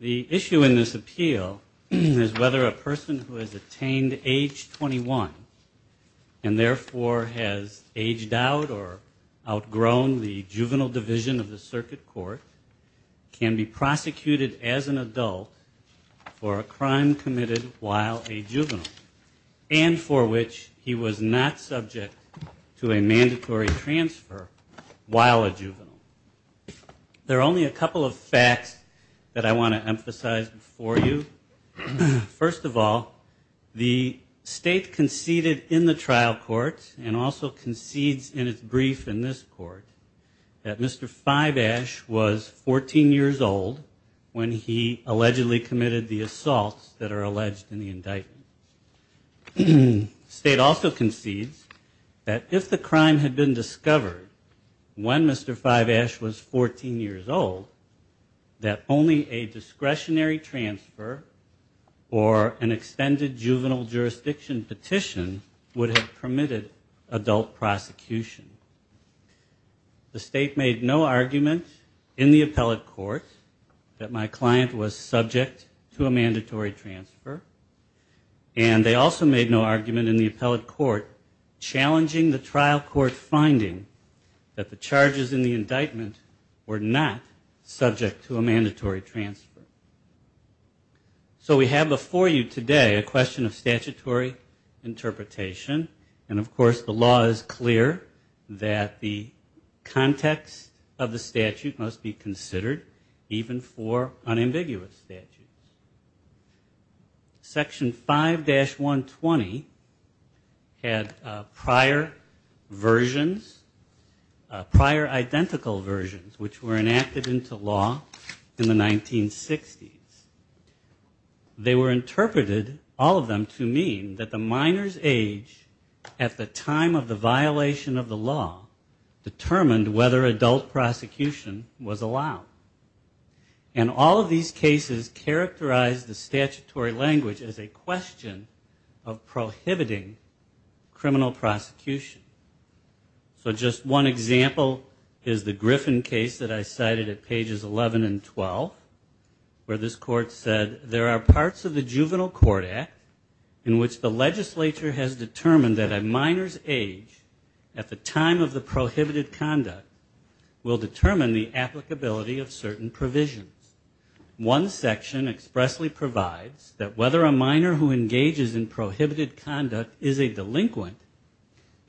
The issue in this appeal is whether a person who has attained age 21 and therefore has aged out or outgrown the juvenile division of the circuit court can be prosecuted as an adult for a crime committed while a juvenile and for which he was not subject to a mandatory transfer while a juvenile. There are only a couple of facts that I want to emphasize for you. First of all, the state conceded in the trial court and also concedes in its brief in this court that Mr. Fiveash was 14 years old when he allegedly committed the assaults that are alleged in the indictment. The state also concedes that if the crime had been discovered when Mr. Fiveash was 14 years old that only a discretionary transfer or an extended juvenile jurisdiction petition would have permitted adult prosecution. The state made no argument in the appellate court that my client was subject to a mandatory transfer and they also made no argument in the appellate court challenging the trial court finding that the charges in the indictment were not subject to a mandatory transfer. So we have before you today a question of statutory interpretation and of course the law is clear that the context of the statute must be considered even for unambiguous statutes. Section 5-120 had prior versions, prior identical versions, which were enacted into law in the 1960s. They were interpreted, all of them, to mean that the minor's age at the time of the characterized the statutory language as a question of prohibiting criminal prosecution. So just one example is the Griffin case that I cited at pages 11 and 12 where this court said, there are parts of the Juvenile Court Act in which the legislature has determined that a minor's age at the time of prohibited conduct will determine the applicability of certain provisions. One section expressly provides that whether a minor who engages in prohibited conduct is a delinquent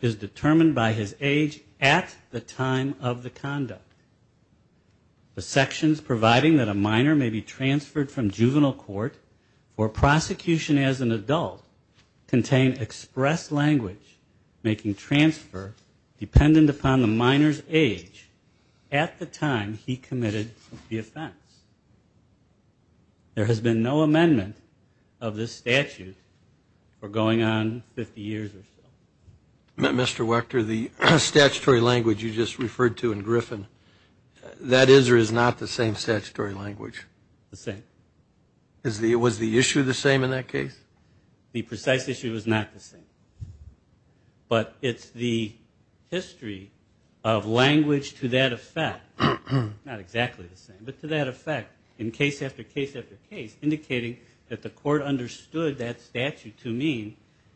is determined by his age at the time of the conduct. The sections providing that a minor may be transferred from juvenile court for prosecution as an adult contain express language making transfer dependent upon the minor's age at the time he committed the offense. There has been no amendment of this statute for going on 50 years or so. Mr. Wechter, the statutory language you just referred to in Griffin, that is or is not the same statutory language? The same. Was the issue the same in that case? The precise issue was not the same. But it's the history of language to that effect, not exactly the same, but to that effect in case after case after case indicating that the court understood that statute to mean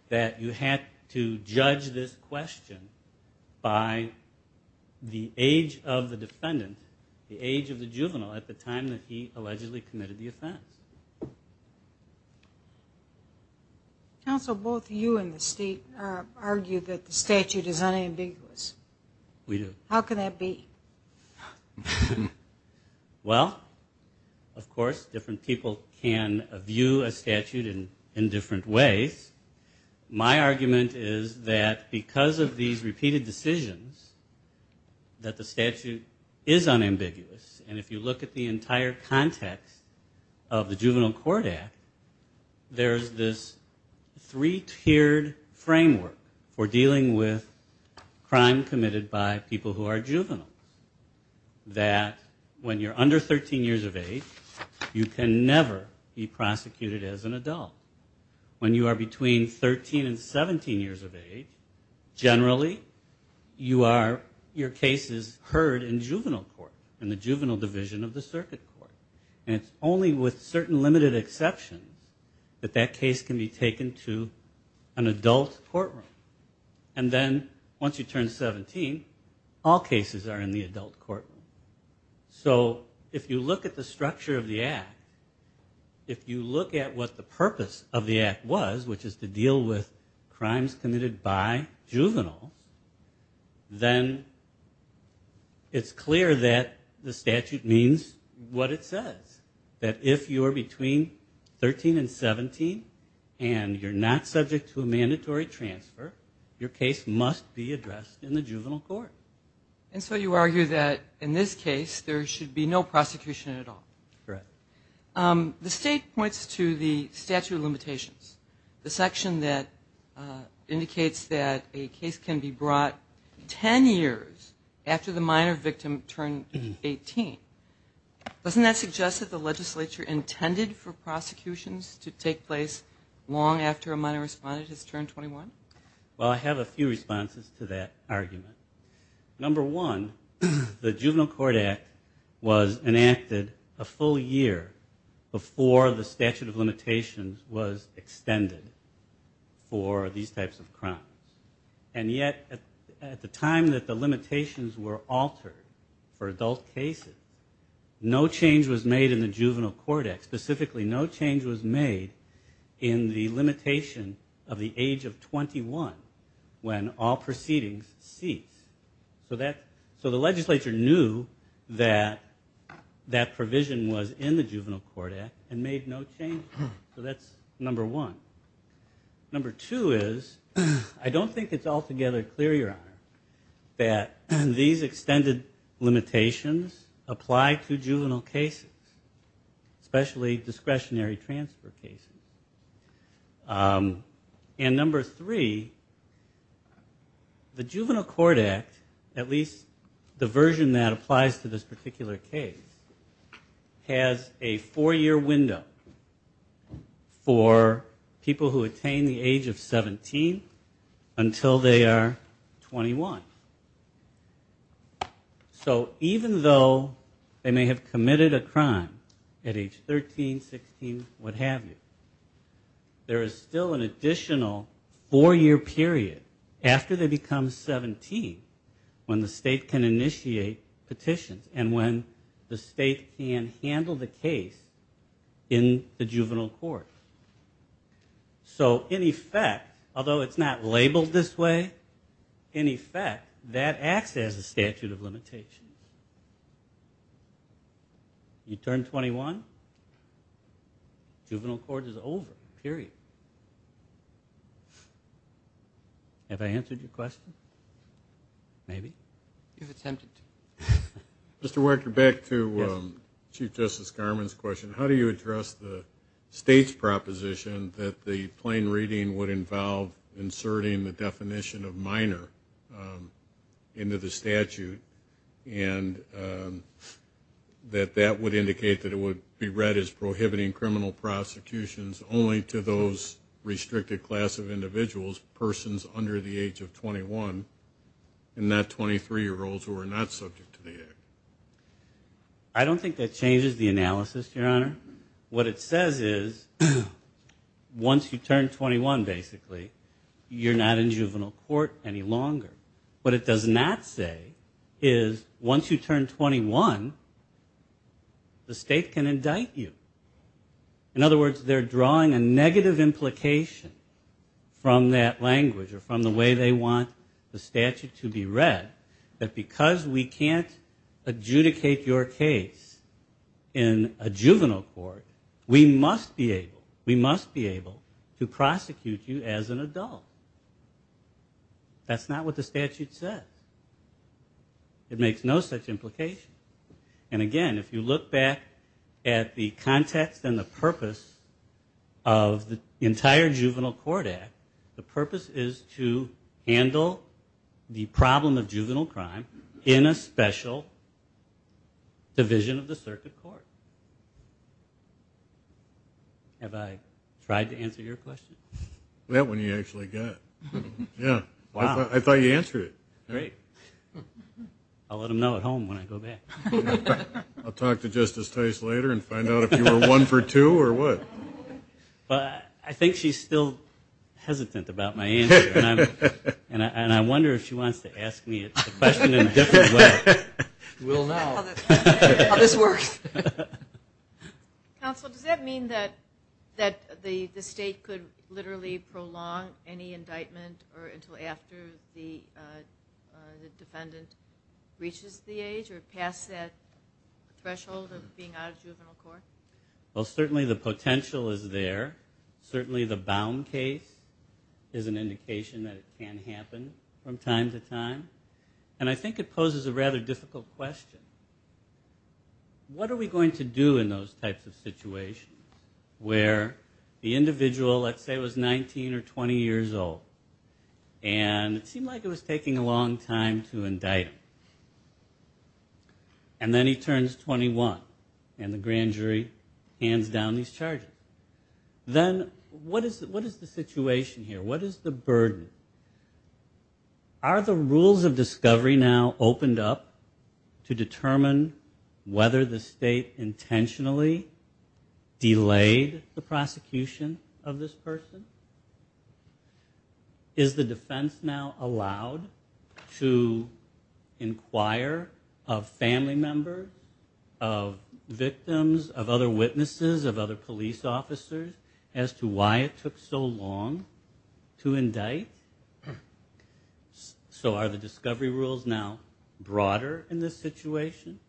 that you had to judge this question by the age of the defendant, the age of the juvenile at the time that he allegedly committed the offense. Counsel, both you and the State argue that the statute is unambiguous. We do. How can that be? Well, of course, different people can view a statute in different ways. My argument is that because of these is unambiguous, and if you look at the entire context of the Juvenile Court Act, there's this three-tiered framework for dealing with crime committed by people who are juveniles. That when you're under 13 years of age, you can never be prosecuted as an adult. When you are between 13 and 17 years of age, generally you are, your case is heard in juvenile court, in the juvenile division of the circuit court. And it's only with certain limited exceptions that that case can be taken to an adult courtroom. And then once you turn 17, all cases are in the adult courtroom. So if you look at the structure of the Act, if you look at what the purpose of the Act was, which is to deal with crimes committed by juveniles, then it's clear that the statute means what it says. That if you are between 13 and 17, and you're not subject to a mandatory transfer, your case must be addressed in the juvenile court. And so you argue that in this case, there should be no prosecution at all. Correct. The state points to the statute of limitations, the section that indicates that a case can be brought 10 years after the minor victim turned 18. Doesn't that suggest that the legislature intended for prosecutions to take place long after a minor respondent has turned 21? Well, I have a few responses to that argument. Number one, the Juvenile Court Act was enacted a full year before the statute of limitations was extended for these types of crimes. And yet, at the time that the limitations were altered for adult cases, no change was made in the Juvenile Court Act. Specifically, no change was made in the Juvenile Court Act until 21, when all proceedings cease. So the legislature knew that that provision was in the Juvenile Court Act and made no change. So that's number one. Number two is, I don't think it's altogether clear, Your Honor, that these extended limitations apply to juvenile cases, especially discretionary transfer cases. And number three, the Juvenile Court Act, at least the version that applies to this particular case, has a four-year window for people who attain the age of 17 until they are 21. So even though they may have committed a crime at age 13, 16, what have you, there is still an additional four-year period after they become 17 when the state can initiate petitions and when the state can handle the case in the That acts as a statute of limitations. You turn 21, juvenile court is over, period. Have I answered your question? Maybe? You've attempted to. Mr. Weicker, back to Chief Justice Garmon's question. How do you address the state's proposition that the plain reading would involve inserting the definition of minor into the statute and that that would indicate that it would be read as prohibiting criminal prosecutions only to those restricted class of individuals, persons under the age of 21, and not 23-year-olds who are not subject to the act? I don't think that changes the analysis, Your Honor. What it says is once you turn 21, basically, you're not in juvenile court any longer. What it does not say is once you turn 21, the state can indict you. In other words, they're drawing a negative implication from that language or from the way they want the statute to be read that because we can't adjudicate your case in a juvenile court, we must be able to prosecute you as an adult. That's not what the statute says. It makes no such implication. And again, if you look back at the context and the purpose of the entire Juvenile Court Act, the purpose is to handle the problem of juvenile crime in a special division of the circuit court. Have I tried to answer your question? That one you actually got. I thought you answered it. Great. I'll let them know at home when I go back. I'll talk to Justice Tice later and find out if you were one for two or what. I think she's still hesitant about my answer, and I wonder if she wants to ask me a question in a different way. We'll know how this works. Counsel, does that mean that the state could literally prolong any indictment until after the defendant reaches the age or past that threshold of being out of juvenile court? Well, certainly the potential is there. Certainly the bound case is an indication that it can happen from time to time. And I think it poses a rather difficult question. What are we going to do in those types of situations where the individual, let's say, was 19 or 20 years old, and it seemed like it was taking a long time to indict him? And then he turns 21, and the grand jury hands down these charges. Then what is the situation here? What is the burden? Are the rules of discovery now opened up to determine whether the state intentionally delayed the prosecution of this person? Is the defense now allowed to inquire of family members, of victims, of other witnesses, of other police officers, as to why it took so long to indict? So are the discovery rules now broader in this situation?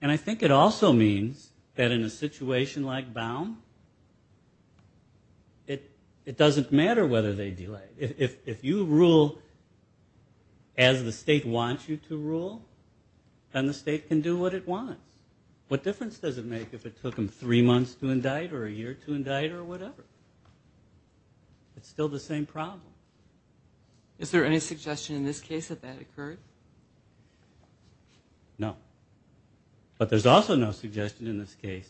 And I think it also means that in a situation like bound, it doesn't matter whether they delay. If you rule as the state wants you to rule, then the state can do what it wants. What difference does it make if it took them three months to indict or a year to indict or whatever? It's still the same problem. Is there any suggestion in this case that that occurred? No. But there's also no suggestion in this case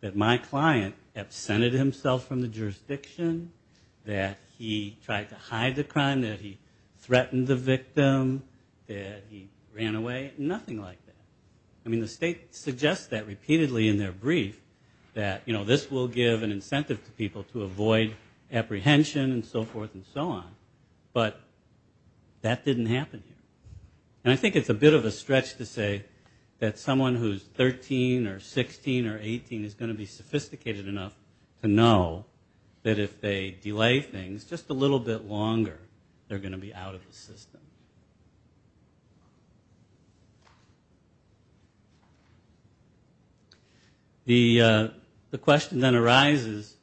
that my client absented himself from the jurisdiction, that he tried to hide the crime, that he threatened the victim, that he ran away. Nothing like that. I mean, the state suggests that repeatedly in their brief, that this will give an incentive to people to avoid apprehension and so forth and so on. But that didn't happen here. And I think it's a bit of a stretch to say that someone who's 13 or 16 or 18 is going to be sophisticated enough to know that if they delay things just a little bit longer, they're going to be out of the system. The question then arises,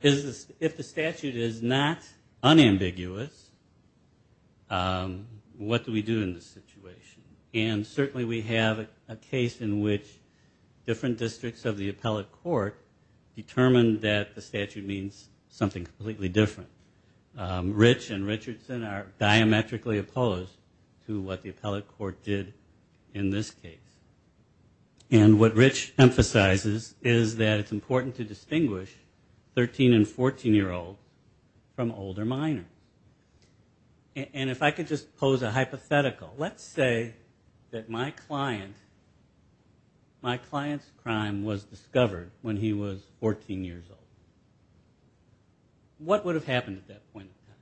if the statute is not unambiguous, what do we do in this situation? And certainly we have a case in which different districts of the appellate court determined that the statute means something completely different. Rich and Richardson are diametrically opposed to what the appellate court did in this case. And what Rich emphasizes is that it's important to distinguish 13 and 14-year-old from older minor. And if I could just pose a hypothetical. Let's say that my client's crime was discovered when he was 14 years old. What would have happened at that point in time?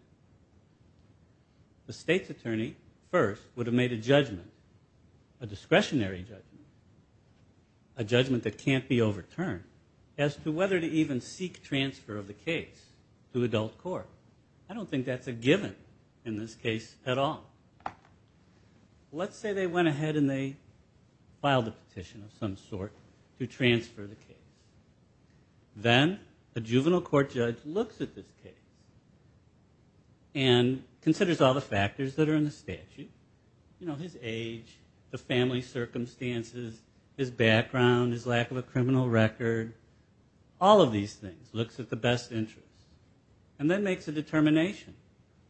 The state's attorney first would have made a judgment, a discretionary judgment, a judgment that can't be overturned, as to whether to even seek transfer of the case to adult court. I don't think that's a given in this case at all. Let's say they went ahead and they filed a petition of some sort to transfer the case. Then a juvenile court judge looks at this case. And considers all the factors that are in the statute, you know, his age, the family circumstances, his background, his lack of a criminal record, all of these things, looks at the best interest. And then makes a determination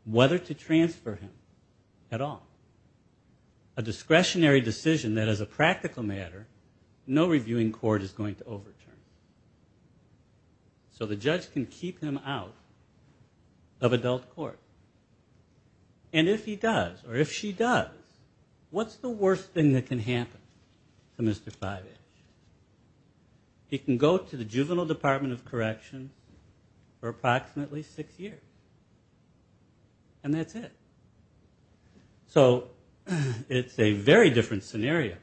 whether to transfer him at all. A discretionary decision that, as a practical matter, no reviewing court is going to overturn. So the judge can keep him out of adult court. And if he does, or if she does, what's the worst thing that can happen to Mr. Five Inch? He can go to the Juvenile Department of Correction for approximately six years. And that's it. So it's a very different scenario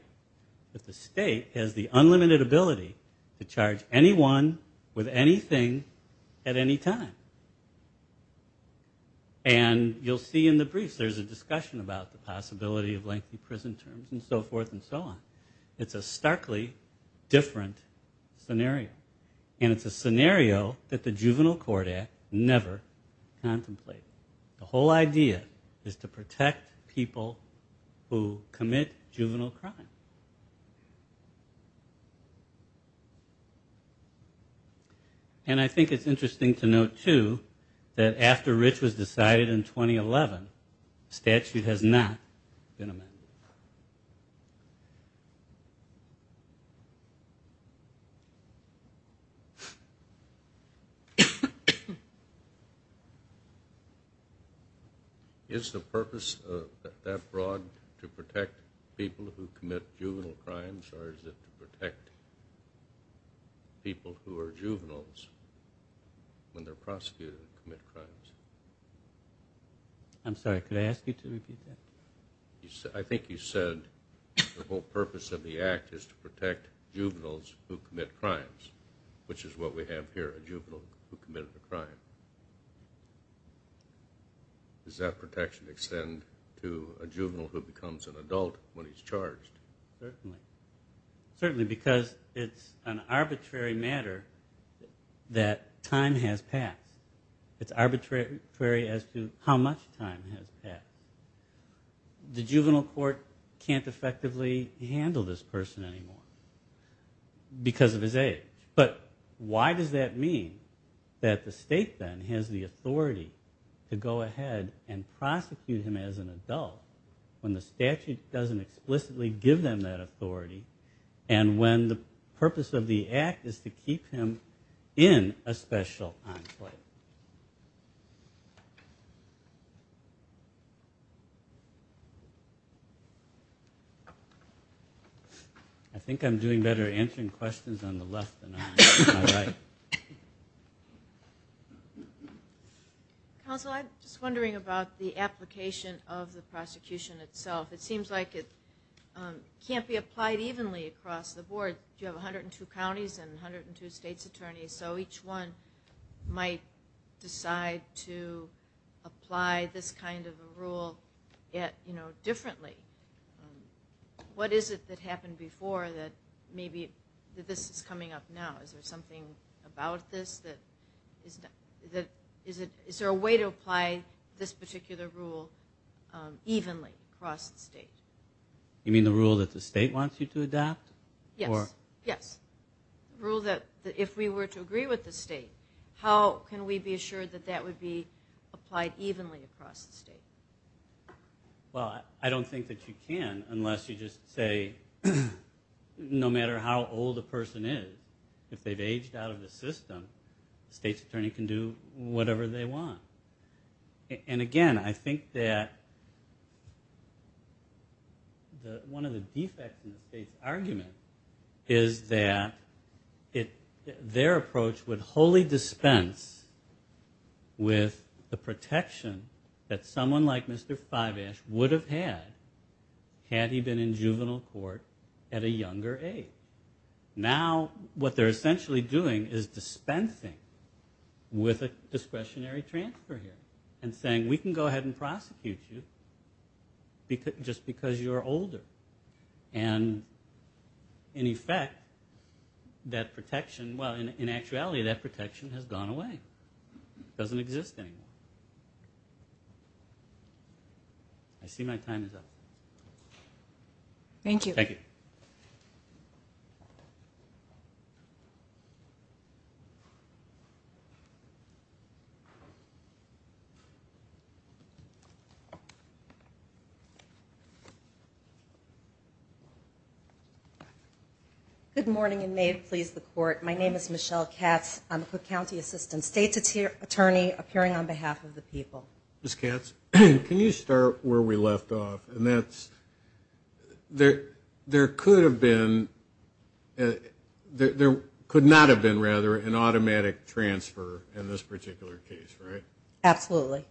that the state has the unlimited ability to charge anyone with anything at any time. And you'll see in the briefs there's a discussion about the possibility of lengthy prison terms and so forth and so on. It's a starkly different scenario. And it's a scenario that the Juvenile Court Act never contemplated. The whole idea is to protect people who commit juvenile crime. And I think it's interesting to note, too, that after Rich was decided in 2011, the statute has not been amended. Is the purpose of that broad to protect people who commit juvenile crimes or is it to protect people who are juveniles when they're prosecuted and commit crimes? I'm sorry, could I ask you to repeat that? I think you said the whole purpose of the Act is to protect juveniles who commit crimes, which is what we have here, a juvenile who committed a crime. Does that protection extend to a juvenile who becomes an adult when he's charged? Certainly. Certainly because it's an arbitrary matter that time has passed. It's arbitrary as to how much time has passed. The Juvenile Court can't effectively handle this person anymore because of his age. But why does that mean that the state then has the authority to go ahead and prosecute him as an adult when the statute doesn't explicitly give them that authority and when the purpose of the Act is to keep him in a special enclave? I think I'm doing better answering questions on the left than I am on the right. Counsel, I'm just wondering about the application of the prosecution itself. It seems like it can't be applied evenly across the board. You have 102 counties and 102 state's attorneys so each one might decide to apply this kind of a rule differently. What is it that happened before that maybe this is coming up now? Is there something about this that is there a way to apply this particular rule evenly across the state? You mean the rule that the state wants you to adapt? Yes. The rule that if we were to agree with the state, how can we be assured that that would be Well, I don't think that you can unless you just say no matter how old a person is, if they've aged out of the system, the state's attorney can do whatever they want. And again, I think that one of the defects in the state's argument is that their approach would wholly dispense with the protection that someone like Mr. Fibash would have had had he been in juvenile court at a younger age. Now what they're essentially doing is dispensing with a discretionary transfer here and saying we can go ahead and prosecute you just because you're older. And in effect, that protection, well in actuality that protection has gone away. It doesn't exist anymore. I see my time is up. Thank you. Good morning and may it please the court. My name is Michelle Katz. I'm a Cook County Assistant State's Attorney appearing on behalf of the people. Ms. Katz, can you start where we left off and that's there could have been there could not have been rather an automatic transfer in this particular case, right? Absolutely.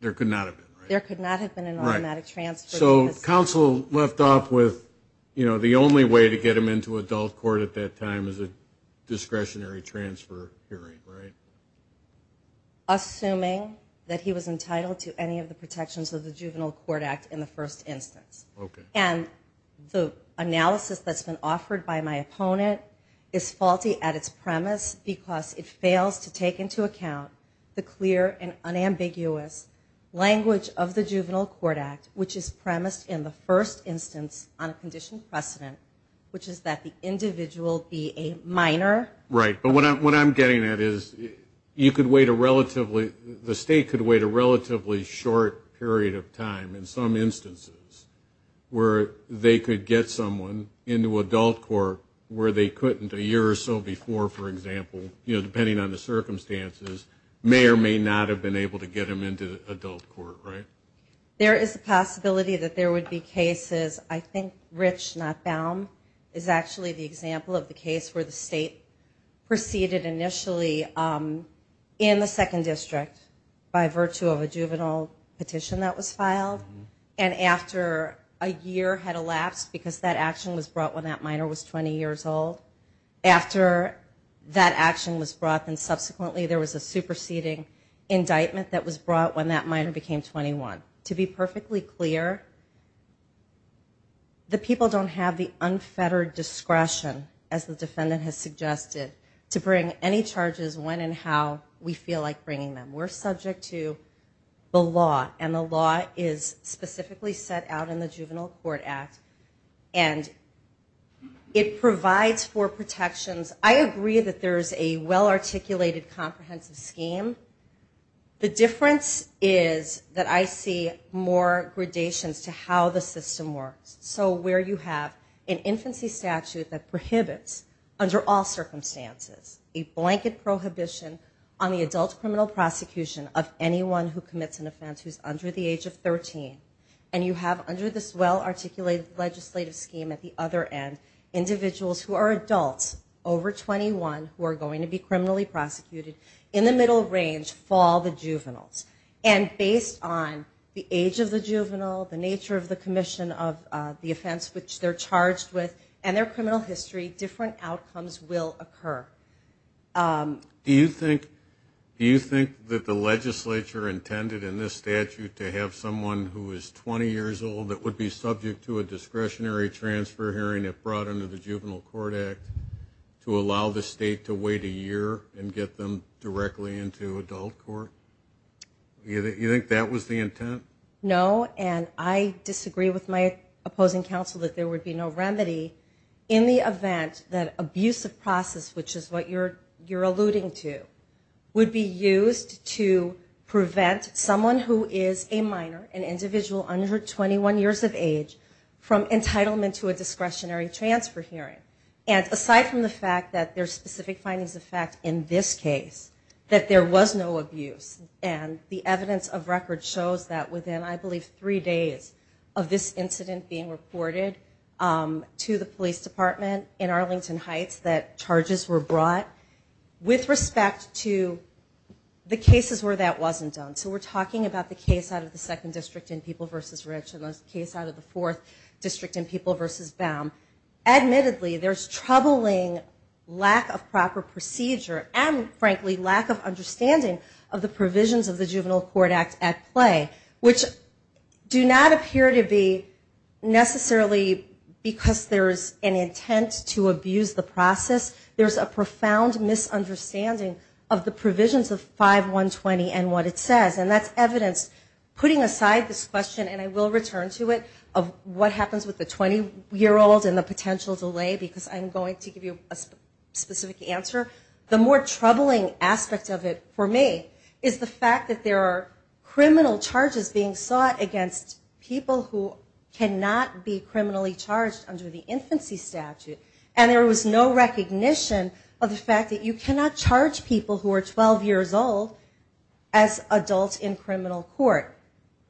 There could not have been, right? There could not have been an automatic transfer. So counsel left off with the only way to get him into adult court at that time was a discretionary transfer hearing, right? Assuming that he was entitled to any of the protections of the Juvenile Court Act in the first instance. Okay. And the analysis that's been offered by my opponent is faulty at its premise because it fails to take into account the clear and unambiguous language of the Juvenile Court Act which is premised in the first instance on a conditioned precedent which is that the individual be a minor. Right. But what I'm getting at is you could wait a relatively the state could wait a relatively short period of time in some instances where they could get someone into adult court where they couldn't a year or so before, for example, depending on the circumstances, may or may not have been able to get them into adult court, right? There is a possibility that there would be cases I think Rich Notbaum is actually the example of the case where the state proceeded initially in the second district by virtue of a juvenile petition that was filed and after a year had elapsed because that action was brought when that minor was 20 years old, after that action was brought and subsequently there was a superseding indictment that was brought when that minor became 21. To be perfectly clear the people don't have the unfettered discretion as the defendant has suggested to bring any charges when and how we feel like bringing them. We're subject to the law and the law is specifically set out in the Juvenile Court Act and it provides for protections I agree that there is a well articulated comprehensive scheme the difference is that I see more gradations to how the system works so where you have an infancy statute that prohibits under all circumstances a blanket prohibition on the adult criminal prosecution of anyone who commits an offense who is under the age of 13 and you have under this well articulated legislative scheme at the other end individuals who are adults over 21 who are going to be criminally prosecuted in the middle range fall the juveniles and based on the age of the juvenile the nature of the commission of the offense which they're charged with and their criminal history different outcomes will occur. Do you think that the legislature intended in this statute to have someone who is 20 years old that would be subject to a discretionary transfer hearing if brought under the Juvenile Court Act to allow the state to wait a year and get them directly into adult court? You think that was the intent? No and I disagree with my opposing counsel that there would be no remedy in the event that abusive process which is what you're alluding to would be used to prevent someone who is a minor an individual under 21 years of age from entitlement to a discretionary transfer hearing and aside from the fact that there's specific findings of fact in this case that there was no abuse and the evidence of record shows that within I believe three days of this incident being reported to the police department in Arlington Heights that charges were brought with respect to the cases where that wasn't done. So we're talking about the case out of the 2nd District in People V. Rich and the case out of the 4th District in People V. Baum admittedly there's troubling lack of proper procedure and frankly lack of understanding of the provisions of the Juvenile Court Act at play which do not appear to be necessarily because there's an intent to abuse the process. There's a profound misunderstanding of the provisions of 5120 and what it says and that's evidence putting aside this question and I will return to it of what happens with the 20 year old and the potential delay because I'm going to give you a specific answer. The more troubling aspect of it for me is the fact that there are criminal charges being sought against people who cannot be criminally charged under the infancy statute and there was no recognition of the fact that you cannot charge people who are 12 years old as adults in criminal court.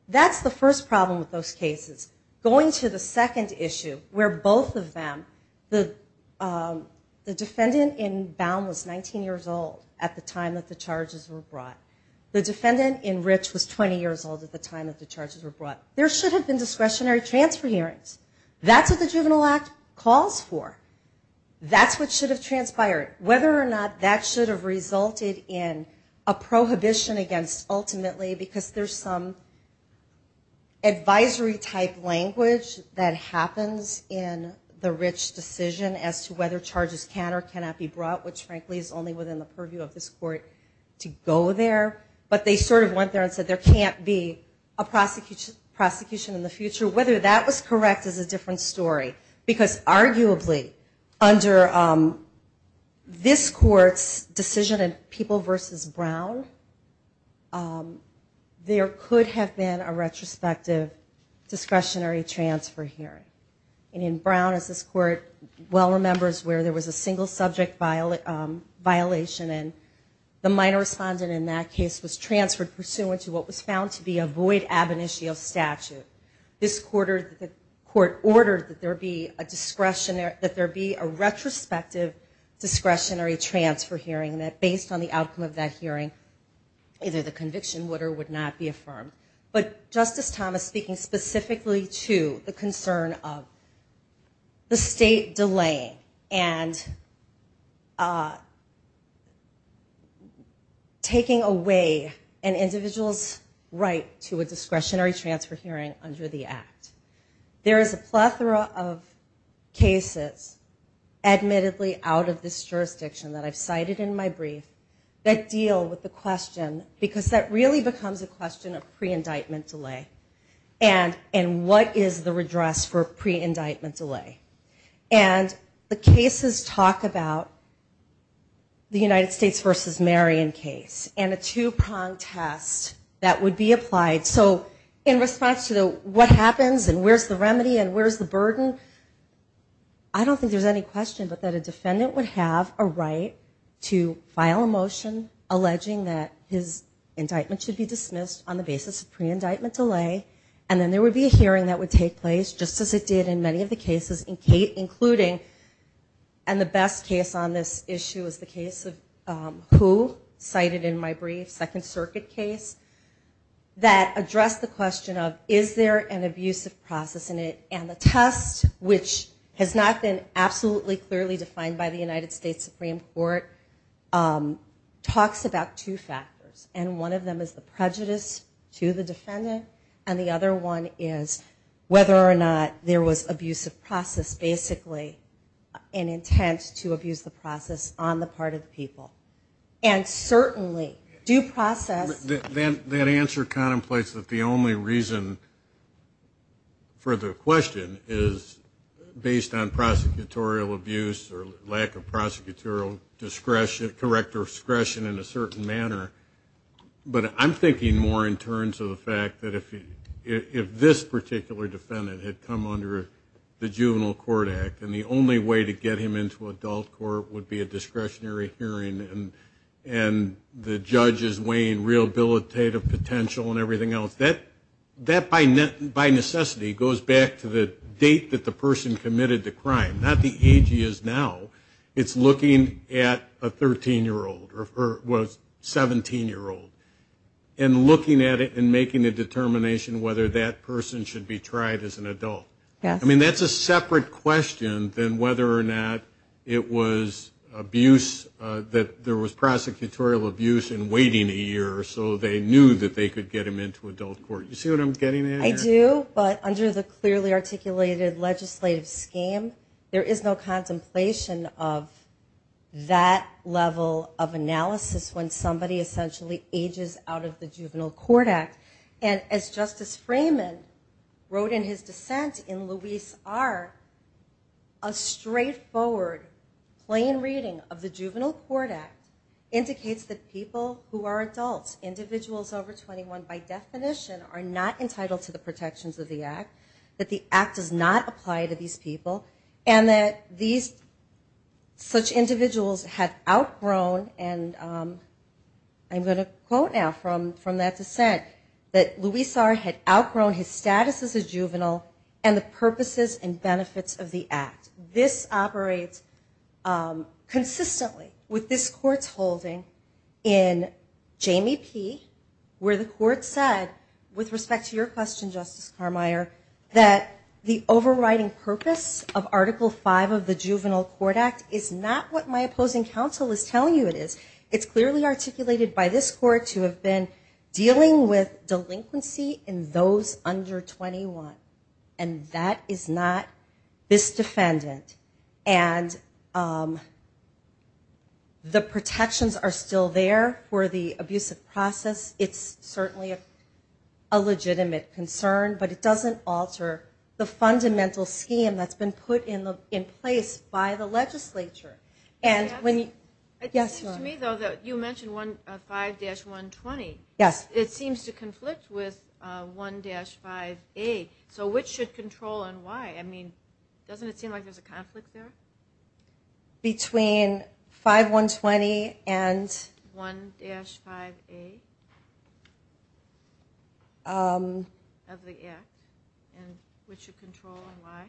That's the first problem with those cases. Going to the second issue where both of them, the defendant in Baum was 19 years old at the time that the charges were brought. The defendant in Rich was 20 years old at the time that the charges were brought. There should have been discretionary transfer hearings. That's what the Juvenile Act calls for. That's what should have transpired. Whether or not that should have resulted in a prohibition against ultimately because there's some advisory type language that the Rich decision as to whether charges can or cannot be brought which frankly is only within the purview of this court to go there but they sort of went there and said there can't be a prosecution in the future. Whether that was correct is a different story because arguably under this court's decision in People v. Brown there could have been a retrospective discretionary transfer hearing. And in Brown as this court well remembers where there was a single subject violation and the minor respondent in that case was transferred pursuant to what was found to be a void ab initio statute. This court ordered that there be a retrospective discretionary transfer hearing that based on the outcome of that hearing either the conviction would or would not be affirmed. But Justice Thomas speaking specifically to the concern of the state delaying and taking away an individual's right to a discretionary transfer hearing under the Act. There is a plethora of cases admittedly out of this jurisdiction that I've cited in my brief that deal with the question because that really becomes a question of and what is the redress for pre-indictment delay. And the cases talk about the United States v. Marion case and a two-pronged test that would be applied. So in response to the what happens and where's the remedy and where's the burden, I don't think there's any question but that a defendant would have a right to file a motion alleging that his indictment should be dismissed on the basis of pre-indictment delay and then there would be a hearing that would take place just as it did in many of the cases including and the best case on this issue is the case of Hu cited in my brief, Second Circuit case, that addressed the question of is there an abusive process in it and the test which has not been absolutely clearly defined by the United States Supreme Court talks about two factors and one of them is the prejudice to the defendant and the other one is whether or not there was abusive process basically an intent to abuse the process on the part of the people and certainly due process. That answer contemplates that the only reason for the question is based on prosecutorial abuse or lack of prosecutorial correct discretion in a but I'm thinking more in terms of the fact that if this particular defendant had come under the Juvenile Court Act and the only way to get him into adult court would be a discretionary hearing and the judge is weighing rehabilitative potential and everything else, that by necessity goes back to the date that the person committed the crime, not the age he is now it's looking at a 13 year old or was 17 year old and looking at it and making a determination whether that person should be tried as an adult. I mean that's a separate question than whether or not it was abuse that there was prosecutorial abuse and waiting a year or so they knew that they could get him into adult court. You see what I'm getting at here? I do, but under the clearly articulated legislative scheme there is no contemplation of that level of analysis when somebody essentially ages out of the Juvenile Court Act and as Justice Freeman wrote in his dissent in Luis R a straightforward plain reading of the Juvenile Court Act indicates that people who are adults, individuals over 21 by definition are not entitled to the protections of the Act that the Act does not apply to these people and that these such individuals have outgrown and I'm going to quote now from that dissent that Luis R had outgrown his status as a juvenile and the purposes and benefits of the Act. This operates consistently with this court's holding in Jamie P where the court said with respect to your question Justice Carmeier that the overriding purpose of Article 5 of the Juvenile Court Act is not what my opposing counsel is telling you it is. It's clearly articulated by this court to have been dealing with delinquency in those under 21 and that is not this defendant and the protections are still there for the abusive process. It's certainly a legitimate concern, but it doesn't alter the fundamental scheme that's been put in place by the legislature. You mentioned 5-120. It seems to conflict with 1-5A. So which should control and why? Doesn't it seem like there's a conflict there? Between 5-120 and 1-5A of the Act and which should control and why?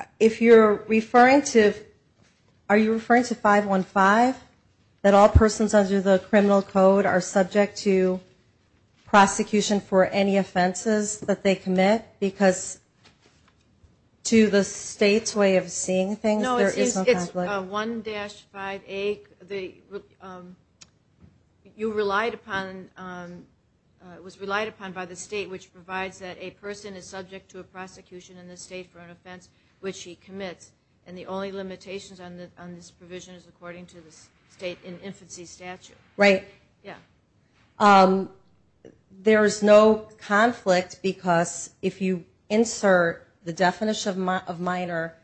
Are you referring to 5-15 that all persons under the criminal code are subject to prosecution for any offenses that they commit because to the state's way of seeing things there is no conflict? No, it's 1-5A You relied upon by the state which provides that a person is subject to a prosecution in the state for an offense which he commits and the only limitations on this provision is according to the state in infancy statute. Right. There is no conflict because if you insert the definition of minor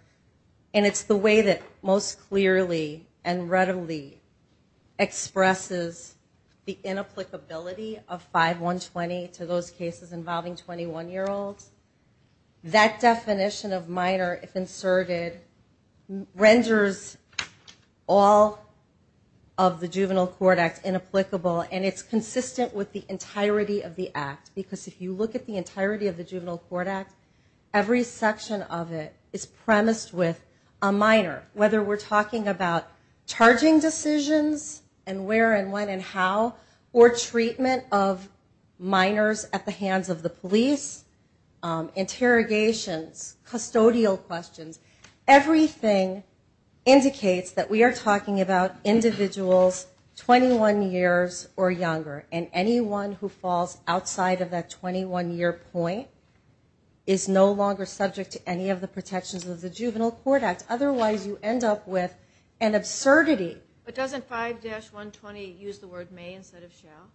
and it's the way that most clearly and readily expresses the inapplicability of 5-120 to those cases involving 21-year-olds, that definition of minor if inserted renders all of the Juvenile Court Act inapplicable and it's consistent with the entirety of the Act because if you look at the entirety of the Juvenile Court Act, every section of it is premised with a minor. Whether we're talking about charging decisions and where and when and how or treatment of minors at the hands of the police, interrogations, custodial questions, everything indicates that we are talking about individuals 21 years or younger and anyone who falls outside of that 21-year point is no longer subject to any of the protections of the Juvenile Court Act otherwise you end up with an absurdity. But doesn't 5-120 use the word may instead of shall?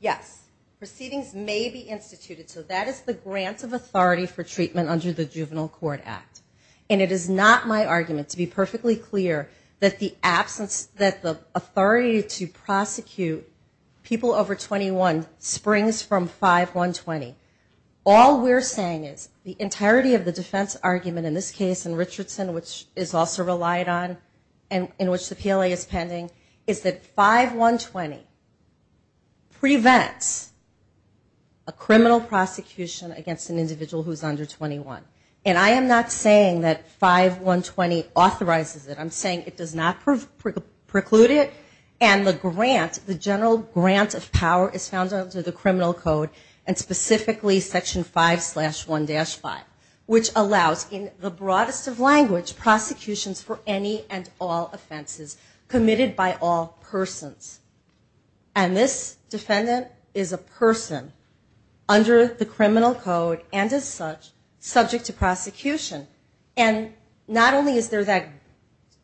Yes. Proceedings may be instituted so that is the grant of authority for treatment under the Juvenile Court Act and it is not my argument to be perfectly clear that the absence, that the authority to prosecute people over 21 springs from 5-120. All we're saying is the entirety of the defense argument in this case in Richardson which is also relied on and in which the PLA is pending is that 5-120 prevents a criminal prosecution against an individual who is under 21. And I am not saying that 5-120 authorizes it. I'm saying it does not preclude it and the grant, the general grant of power is found under the criminal code and specifically Section 5-1-5 which allows in the broadest of language prosecutions for any and all offenses committed by all persons. And this defendant is a person under the criminal code and as such subject to prosecution and not only is there that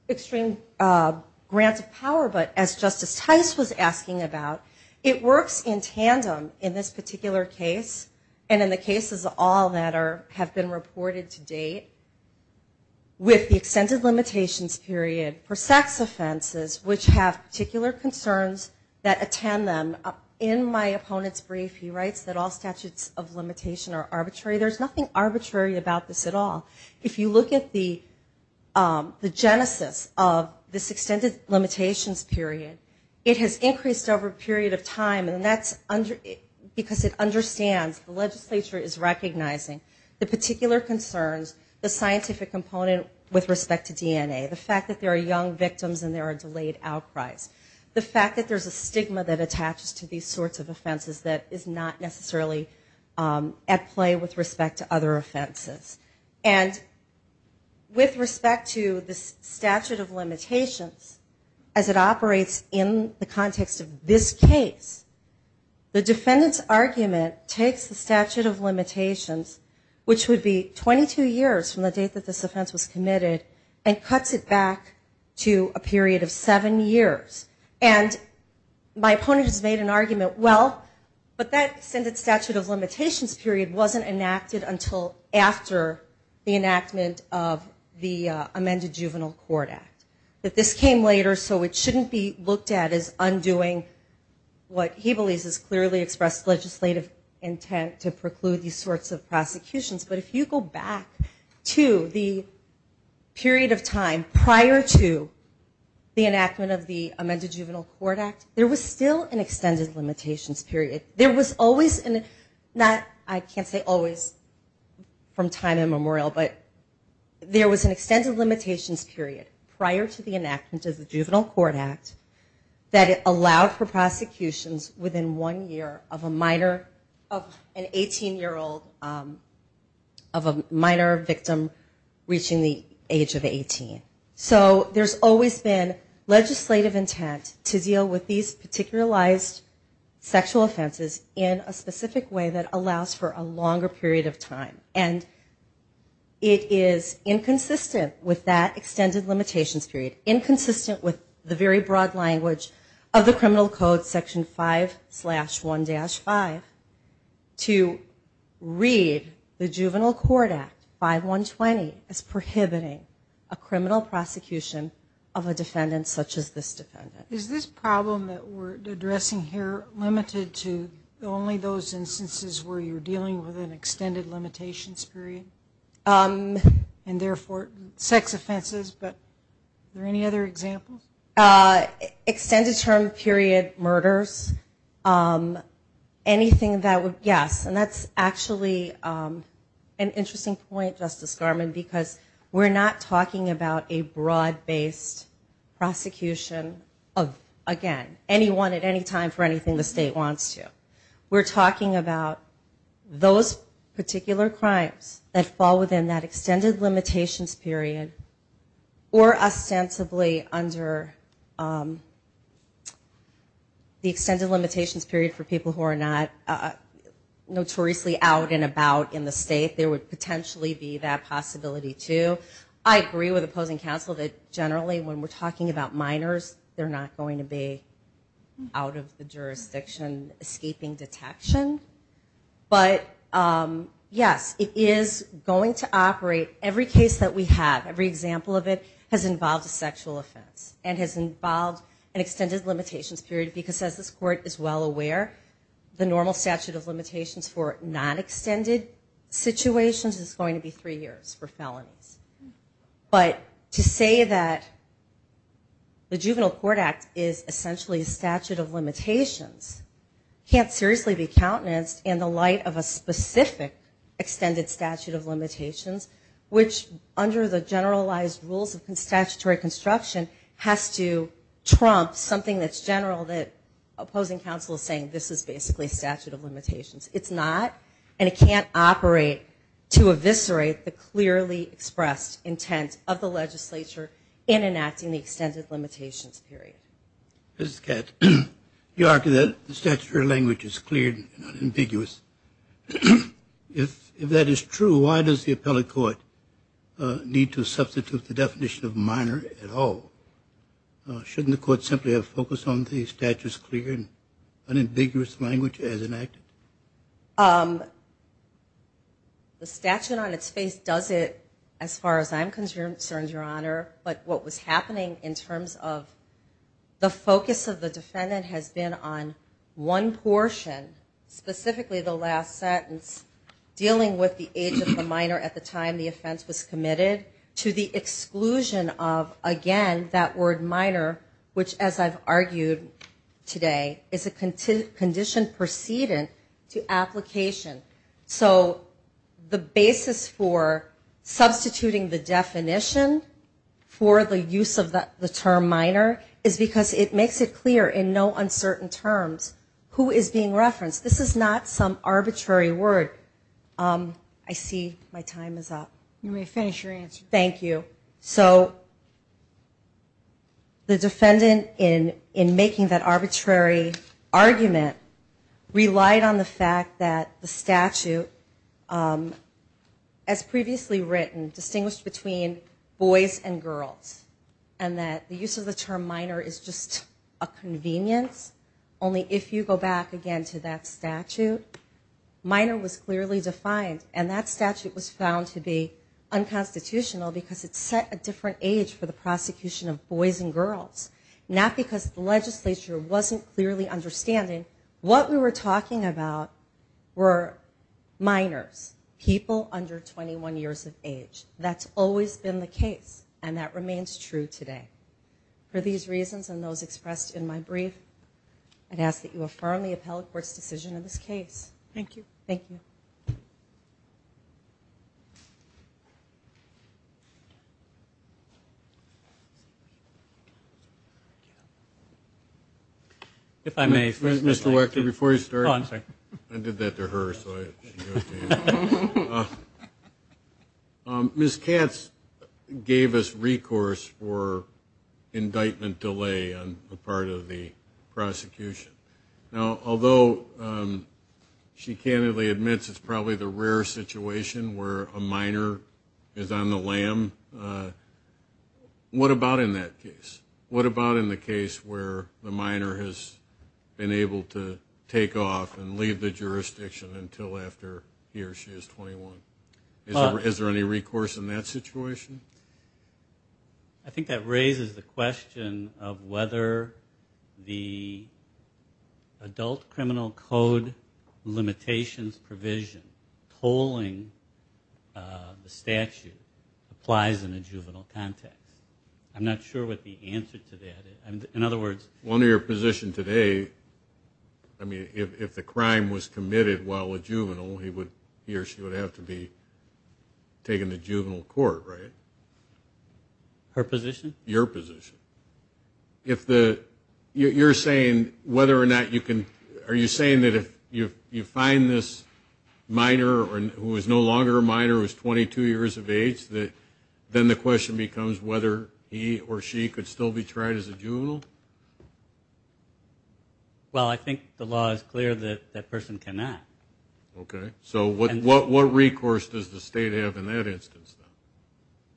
extreme grant of power but as Justice Tice was asking about it works in tandem in this particular case and in the cases of all that have been reported to date with the extended limitations period for sex offenses which have particular concerns that attend them. In my opponent's brief he writes that all statutes of limitation are arbitrary. There's nothing arbitrary about this at all. If you look at the genesis of this extended limitations period it has increased over a period of time because it understands the legislature is recognizing the particular concerns the scientific component with respect to DNA. The fact that there are young victims and there are delayed outcries. The fact that there's a stigma that attaches to these sorts of offenses that is not necessarily at play with respect to other offenses. And with respect to the statute of limitations as it operates in the context of this case the defendant's argument takes the statute of limitations which would be 22 years from the date that this offense was committed and cuts it back to a period of 7 years and my opponent has made an argument well but that extended statute of limitations period wasn't enacted until after the enactment of the amended juvenile court act. That this came later so it shouldn't be looked at as undoing what he believes is clearly expressed legislative intent to preclude these sorts of prosecutions but if you go back to the period of time prior to the enactment of the amended juvenile court act there was still an extended limitations period. There was always I can't say always from time immemorial but there was an extended limitations period prior to the enactment of the juvenile court act that it allowed for prosecutions within one year of a minor of an 18 year old of a minor victim reaching the age of 18. So there's always been legislative intent to deal with these particularized sexual and it is inconsistent with that extended limitations period inconsistent with the very broad language of the criminal code section 5 slash 1 dash 5 to read the juvenile court act 5120 as prohibiting a criminal prosecution of a defendant such as this defendant. Is this problem that we're addressing here limited to only those instances where you're dealing with an extended limitations period and therefore sex offenses but are there any other examples? Extended term period murders anything that would yes and that's actually an interesting point Justice Garmon because we're not talking about a broad based prosecution of again anyone at any time for anything the state wants to. We're talking about those particular crimes that fall within that extended limitations period or ostensibly under the extended limitations period for people who are not notoriously out and about in the state there would potentially be that possibility too. I agree with opposing counsel that generally when we're talking about minors they're not going to be out of the jurisdiction escaping detection but yes it is going to operate every case that we have every example of it has involved a sexual offense and has involved an extended limitations period because as this court is well aware the normal statute of limitations for non-extended situations is going to be three years for felonies but to say that the juvenile court act is essentially a statute of limitations can't seriously be countenanced in the light of a specific extended statute of limitations which under the generalized rules of statutory construction has to trump something that's general that opposing counsel is saying this is basically a statute of limitations. It's not and it can't operate to eviscerate the clearly expressed intent of the legislature in enacting the extended limitations period. You argue that the statutory language is clear and unambiguous if that is true why does the appellate court need to substitute the definition of minor at all? Shouldn't the court simply have focus on the statute's clear and unambiguous language as enacted? The statute on its face does it as far as I'm concerned your honor but what was happening in terms of the focus of the defendant has been on one portion specifically the last sentence dealing with the age of the minor at the time the offense was committed to the exclusion of again that word minor which as I've argued today is a conditioned precedent to application so the basis for substituting the definition for the use of the term minor is because it makes it clear in no uncertain terms who is being referenced. This is not some arbitrary word. I see my time is up. You may finish your answer. Thank you. So the defendant in making that arbitrary argument relied on the fact that the statute as previously written distinguished between boys and girls and that the use of the term minor is just a convenience only if you go back again to that statute minor was clearly defined and that statute was found to be unconstitutional because it set a different age for the prosecution of boys and girls not because the legislature wasn't clearly understanding what we were talking about were minors, people under 21 years of age. That's always been the case and that remains true today. For these reasons and those expressed in my brief I'd ask that you affirm the appellate court's decision in this case. Thank you. Thank you. Mr. Wechter, before you start. I did that to her so I should do it to you. Ms. Katz gave us recourse for indictment delay on the part of the prosecution. Now although she candidly admits it's probably the rare situation where a minor is on the lam, what about in that case? What about in the case where the minor has been able to take off and leave the jurisdiction until after he or she is 21? Is there any recourse in that situation? I think that raises the question of whether the adult criminal code limitations provision tolling the statute applies in a juvenile context. I'm not sure what the answer to that is. One of your positions today, if the crime was committed while a juvenile he or she would have to be taken to juvenile court, right? Her position? Your position. You're saying whether or not you can, are you saying that if you find this minor who is no longer a minor, who is 22 years of age, then the question becomes whether he or she could still be tried as a juvenile? Well, I think the law is clear that that person cannot. Okay. So what recourse does the state have in that instance?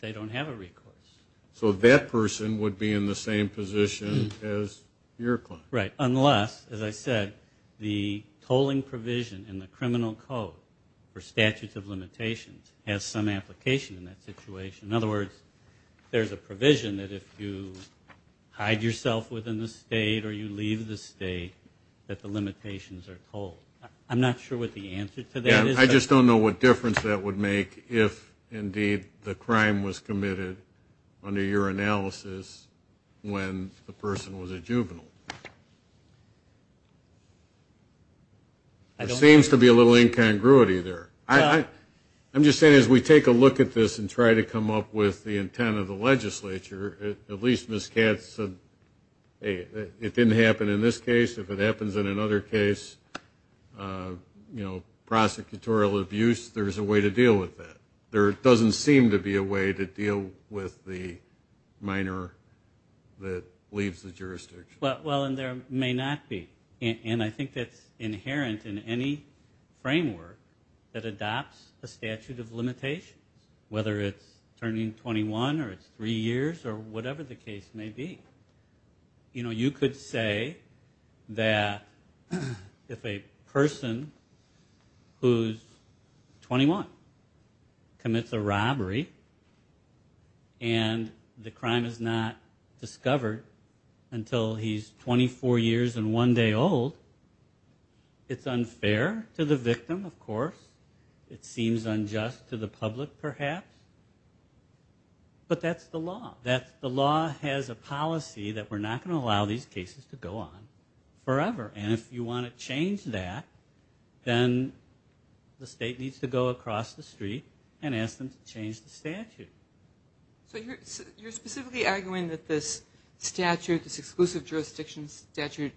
They don't have a recourse. So that person would be in the same position as your client. Right. Unless, as I said, the tolling provision in the criminal code for statutes of limitations has some application in that situation. In other words, there's a provision that if you hide yourself within the state or you leave the state, that the limitations are tolled. I'm not sure what the answer to that is. I just don't know what difference that would make if indeed the crime was committed under your analysis when the person was a juvenile. There seems to be a little incongruity there. I'm just saying as we take a look at this and try to come up with the intent of the legislature, at least Ms. Katz said it didn't happen in this case. If it happens in another case, you know, prosecutorial abuse, there's a way to deal with the minor that leaves the jurisdiction. Well, and there may not be. And I think that's inherent in any framework that adopts a statute of limitations, whether it's turning 21 or it's three years or whatever the case may be. You know, you could say that if a person who's 21 commits a robbery and the crime is not discovered until he's 24 years and one day old, it's unfair to the victim, of course. It seems unjust to the public perhaps. But that's the law. The law has a policy that we're not going to allow these cases to go on forever. And if you want to change that, then the state needs to go across the street and ask them to change the statute. So you're specifically arguing that this statute, this exclusive jurisdiction statute,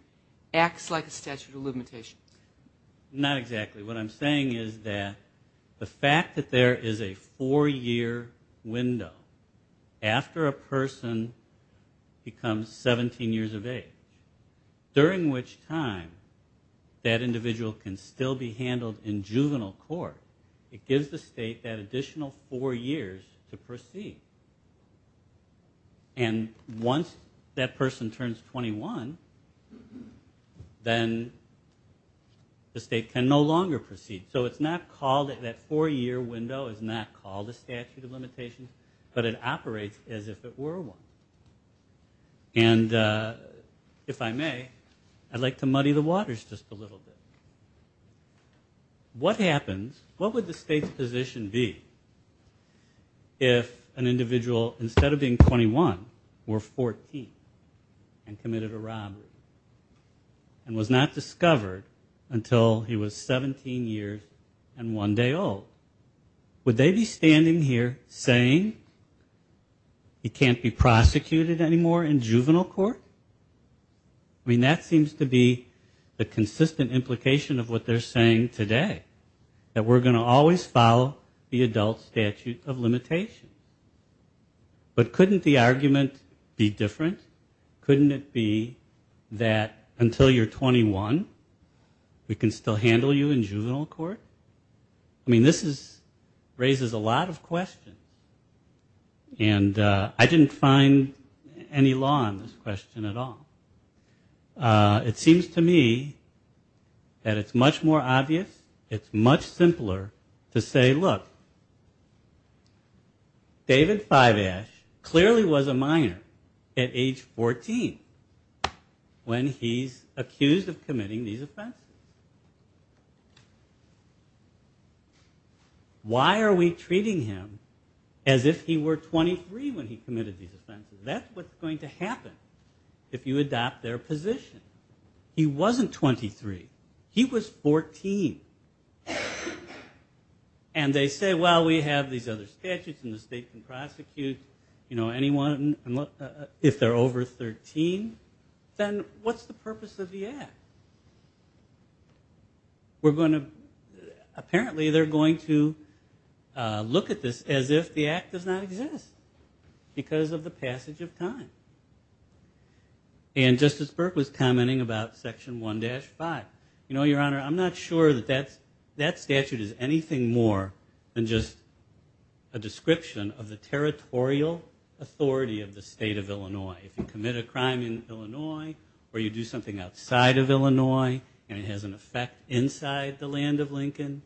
acts like a statute of limitation? Not exactly. What I'm saying is that the fact that there is a four-year window after a person becomes 17 years of age, during which time that person is jailed in juvenile court, it gives the state that additional four years to proceed. And once that person turns 21, then the state can no longer proceed. So it's not called that four-year window is not called a statute of limitations, but it operates as if it were one. And if I may, I'd like to muddy the waters just a little bit. What happens, what would the state's position be if an individual, instead of being 21, were 14 and committed a robbery and was not discovered until he was 17 years and one day old? Would they be standing here saying he can't be prosecuted anymore in juvenile court? I mean, that seems to be the consistent implication of what they're saying today, that we're going to always follow the adult statute of limitation. But couldn't the argument be different? Couldn't it be that until you're 21 we can still handle you in juvenile court? I mean, this raises a lot of questions. And I didn't find any law on this question at all. It seems to me that it's much more obvious, it's much simpler to say, look, David Fivash clearly was a minor at age 14 when he's accused of committing these offenses. Why are we treating him as if he were 23 when he committed these offenses? That's what's going to happen if you adopt their position. He wasn't 23. He was 14. And they say, well, we have these other statutes and the state can prosecute anyone if they're over 13. Then what's the purpose of the act? Apparently they're going to look at this as if the act does not exist because of the statute. And Justice Burke was commenting about Section 1-5. You know, Your Honor, I'm not sure that that statute is anything more than just a description of the territorial authority of the state of Illinois. If you commit a crime in Illinois or you do something outside of Illinois and it has an effect inside the land of Lincoln,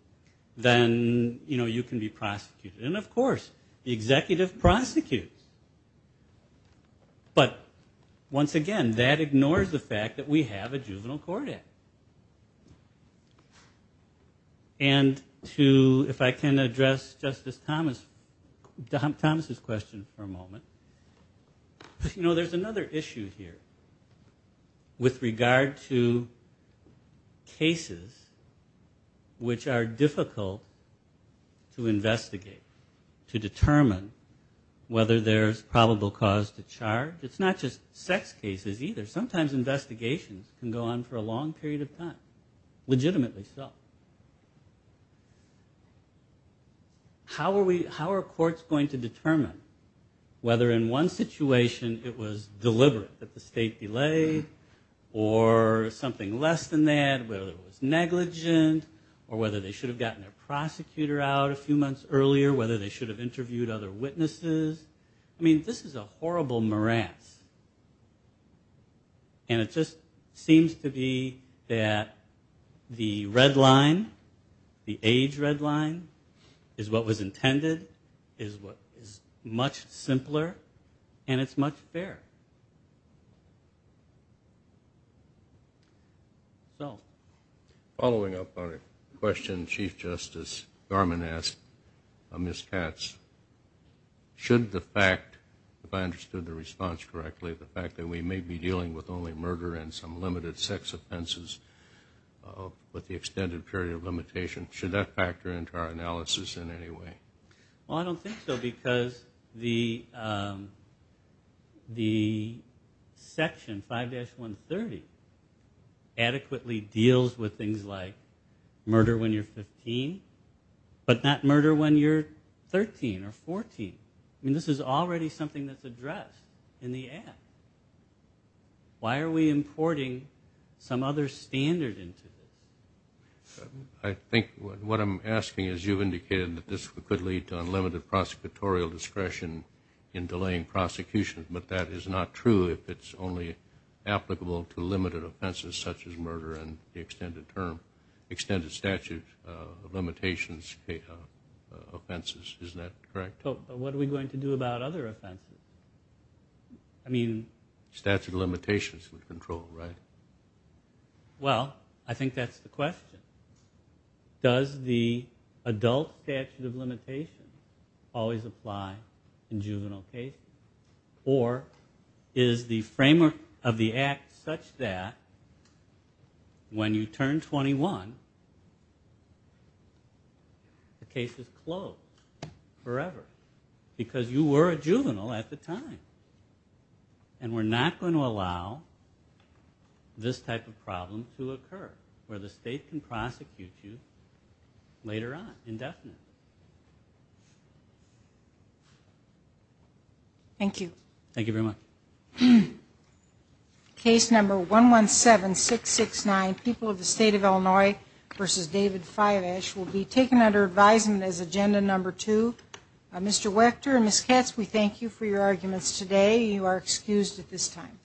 then you can be prosecuted. And of course, the executive prosecutes. But once again, that ignores the fact that we have a Juvenile Court Act. And if I can address Justice Thomas's question for a moment. You know, there's another issue here with regard to cases which are difficult to investigate, to determine whether there's probable cause to charge. It's not just sex cases either. Sometimes investigations can go on for a long period of time. Legitimately so. How are courts going to determine whether in one situation it was deliberate that the state delay or something less than that, whether it was negligent or whether they should have gotten their prosecutor out a few months earlier, whether they should have interviewed other witnesses. I mean, this is a horrible morass. And it just seems to be that the red line, the age red line, is what was intended, is much simpler, and it's much fairer. So. Following up on a question Chief Justice Garmon asked, Ms. Katz, should the fact, if I understood the response correctly, the fact that we may be dealing with only murder and some limited sex offenses with the extended period of limitation, should that factor into our analysis in any way? Well, I don't think so, because the Section 5-130 adequately deals with things like murder when you're 15, but not murder when you're 13 or 14. I mean, this is already something that's addressed in the Act. Why are we importing some other standard into this? I think what I'm asking is you've indicated that this could lead to unlimited prosecutorial discretion in delaying prosecution, but that is not true if it's only applicable to limited offenses such as murder and the extended term, extended statute of limitations offenses, isn't that correct? But what are we going to do about other offenses? I mean. Statute of limitations with control, right? Well, I think that's the question. Does the adult statute of limitations always apply in juvenile cases, or is the framework of the Act such that when you turn 21 the case is closed forever because you were a juvenile at the time, and we're not going to allow this type of problem to occur where the state can prosecute you later on indefinitely. Thank you. Thank you very much. Case number 117669, People of the State of Illinois v. David Fivesh will be taken under advisement as agenda number 2. Mr. Wechter and Ms. Katz, we thank you for your arguments today. You are excused at this time.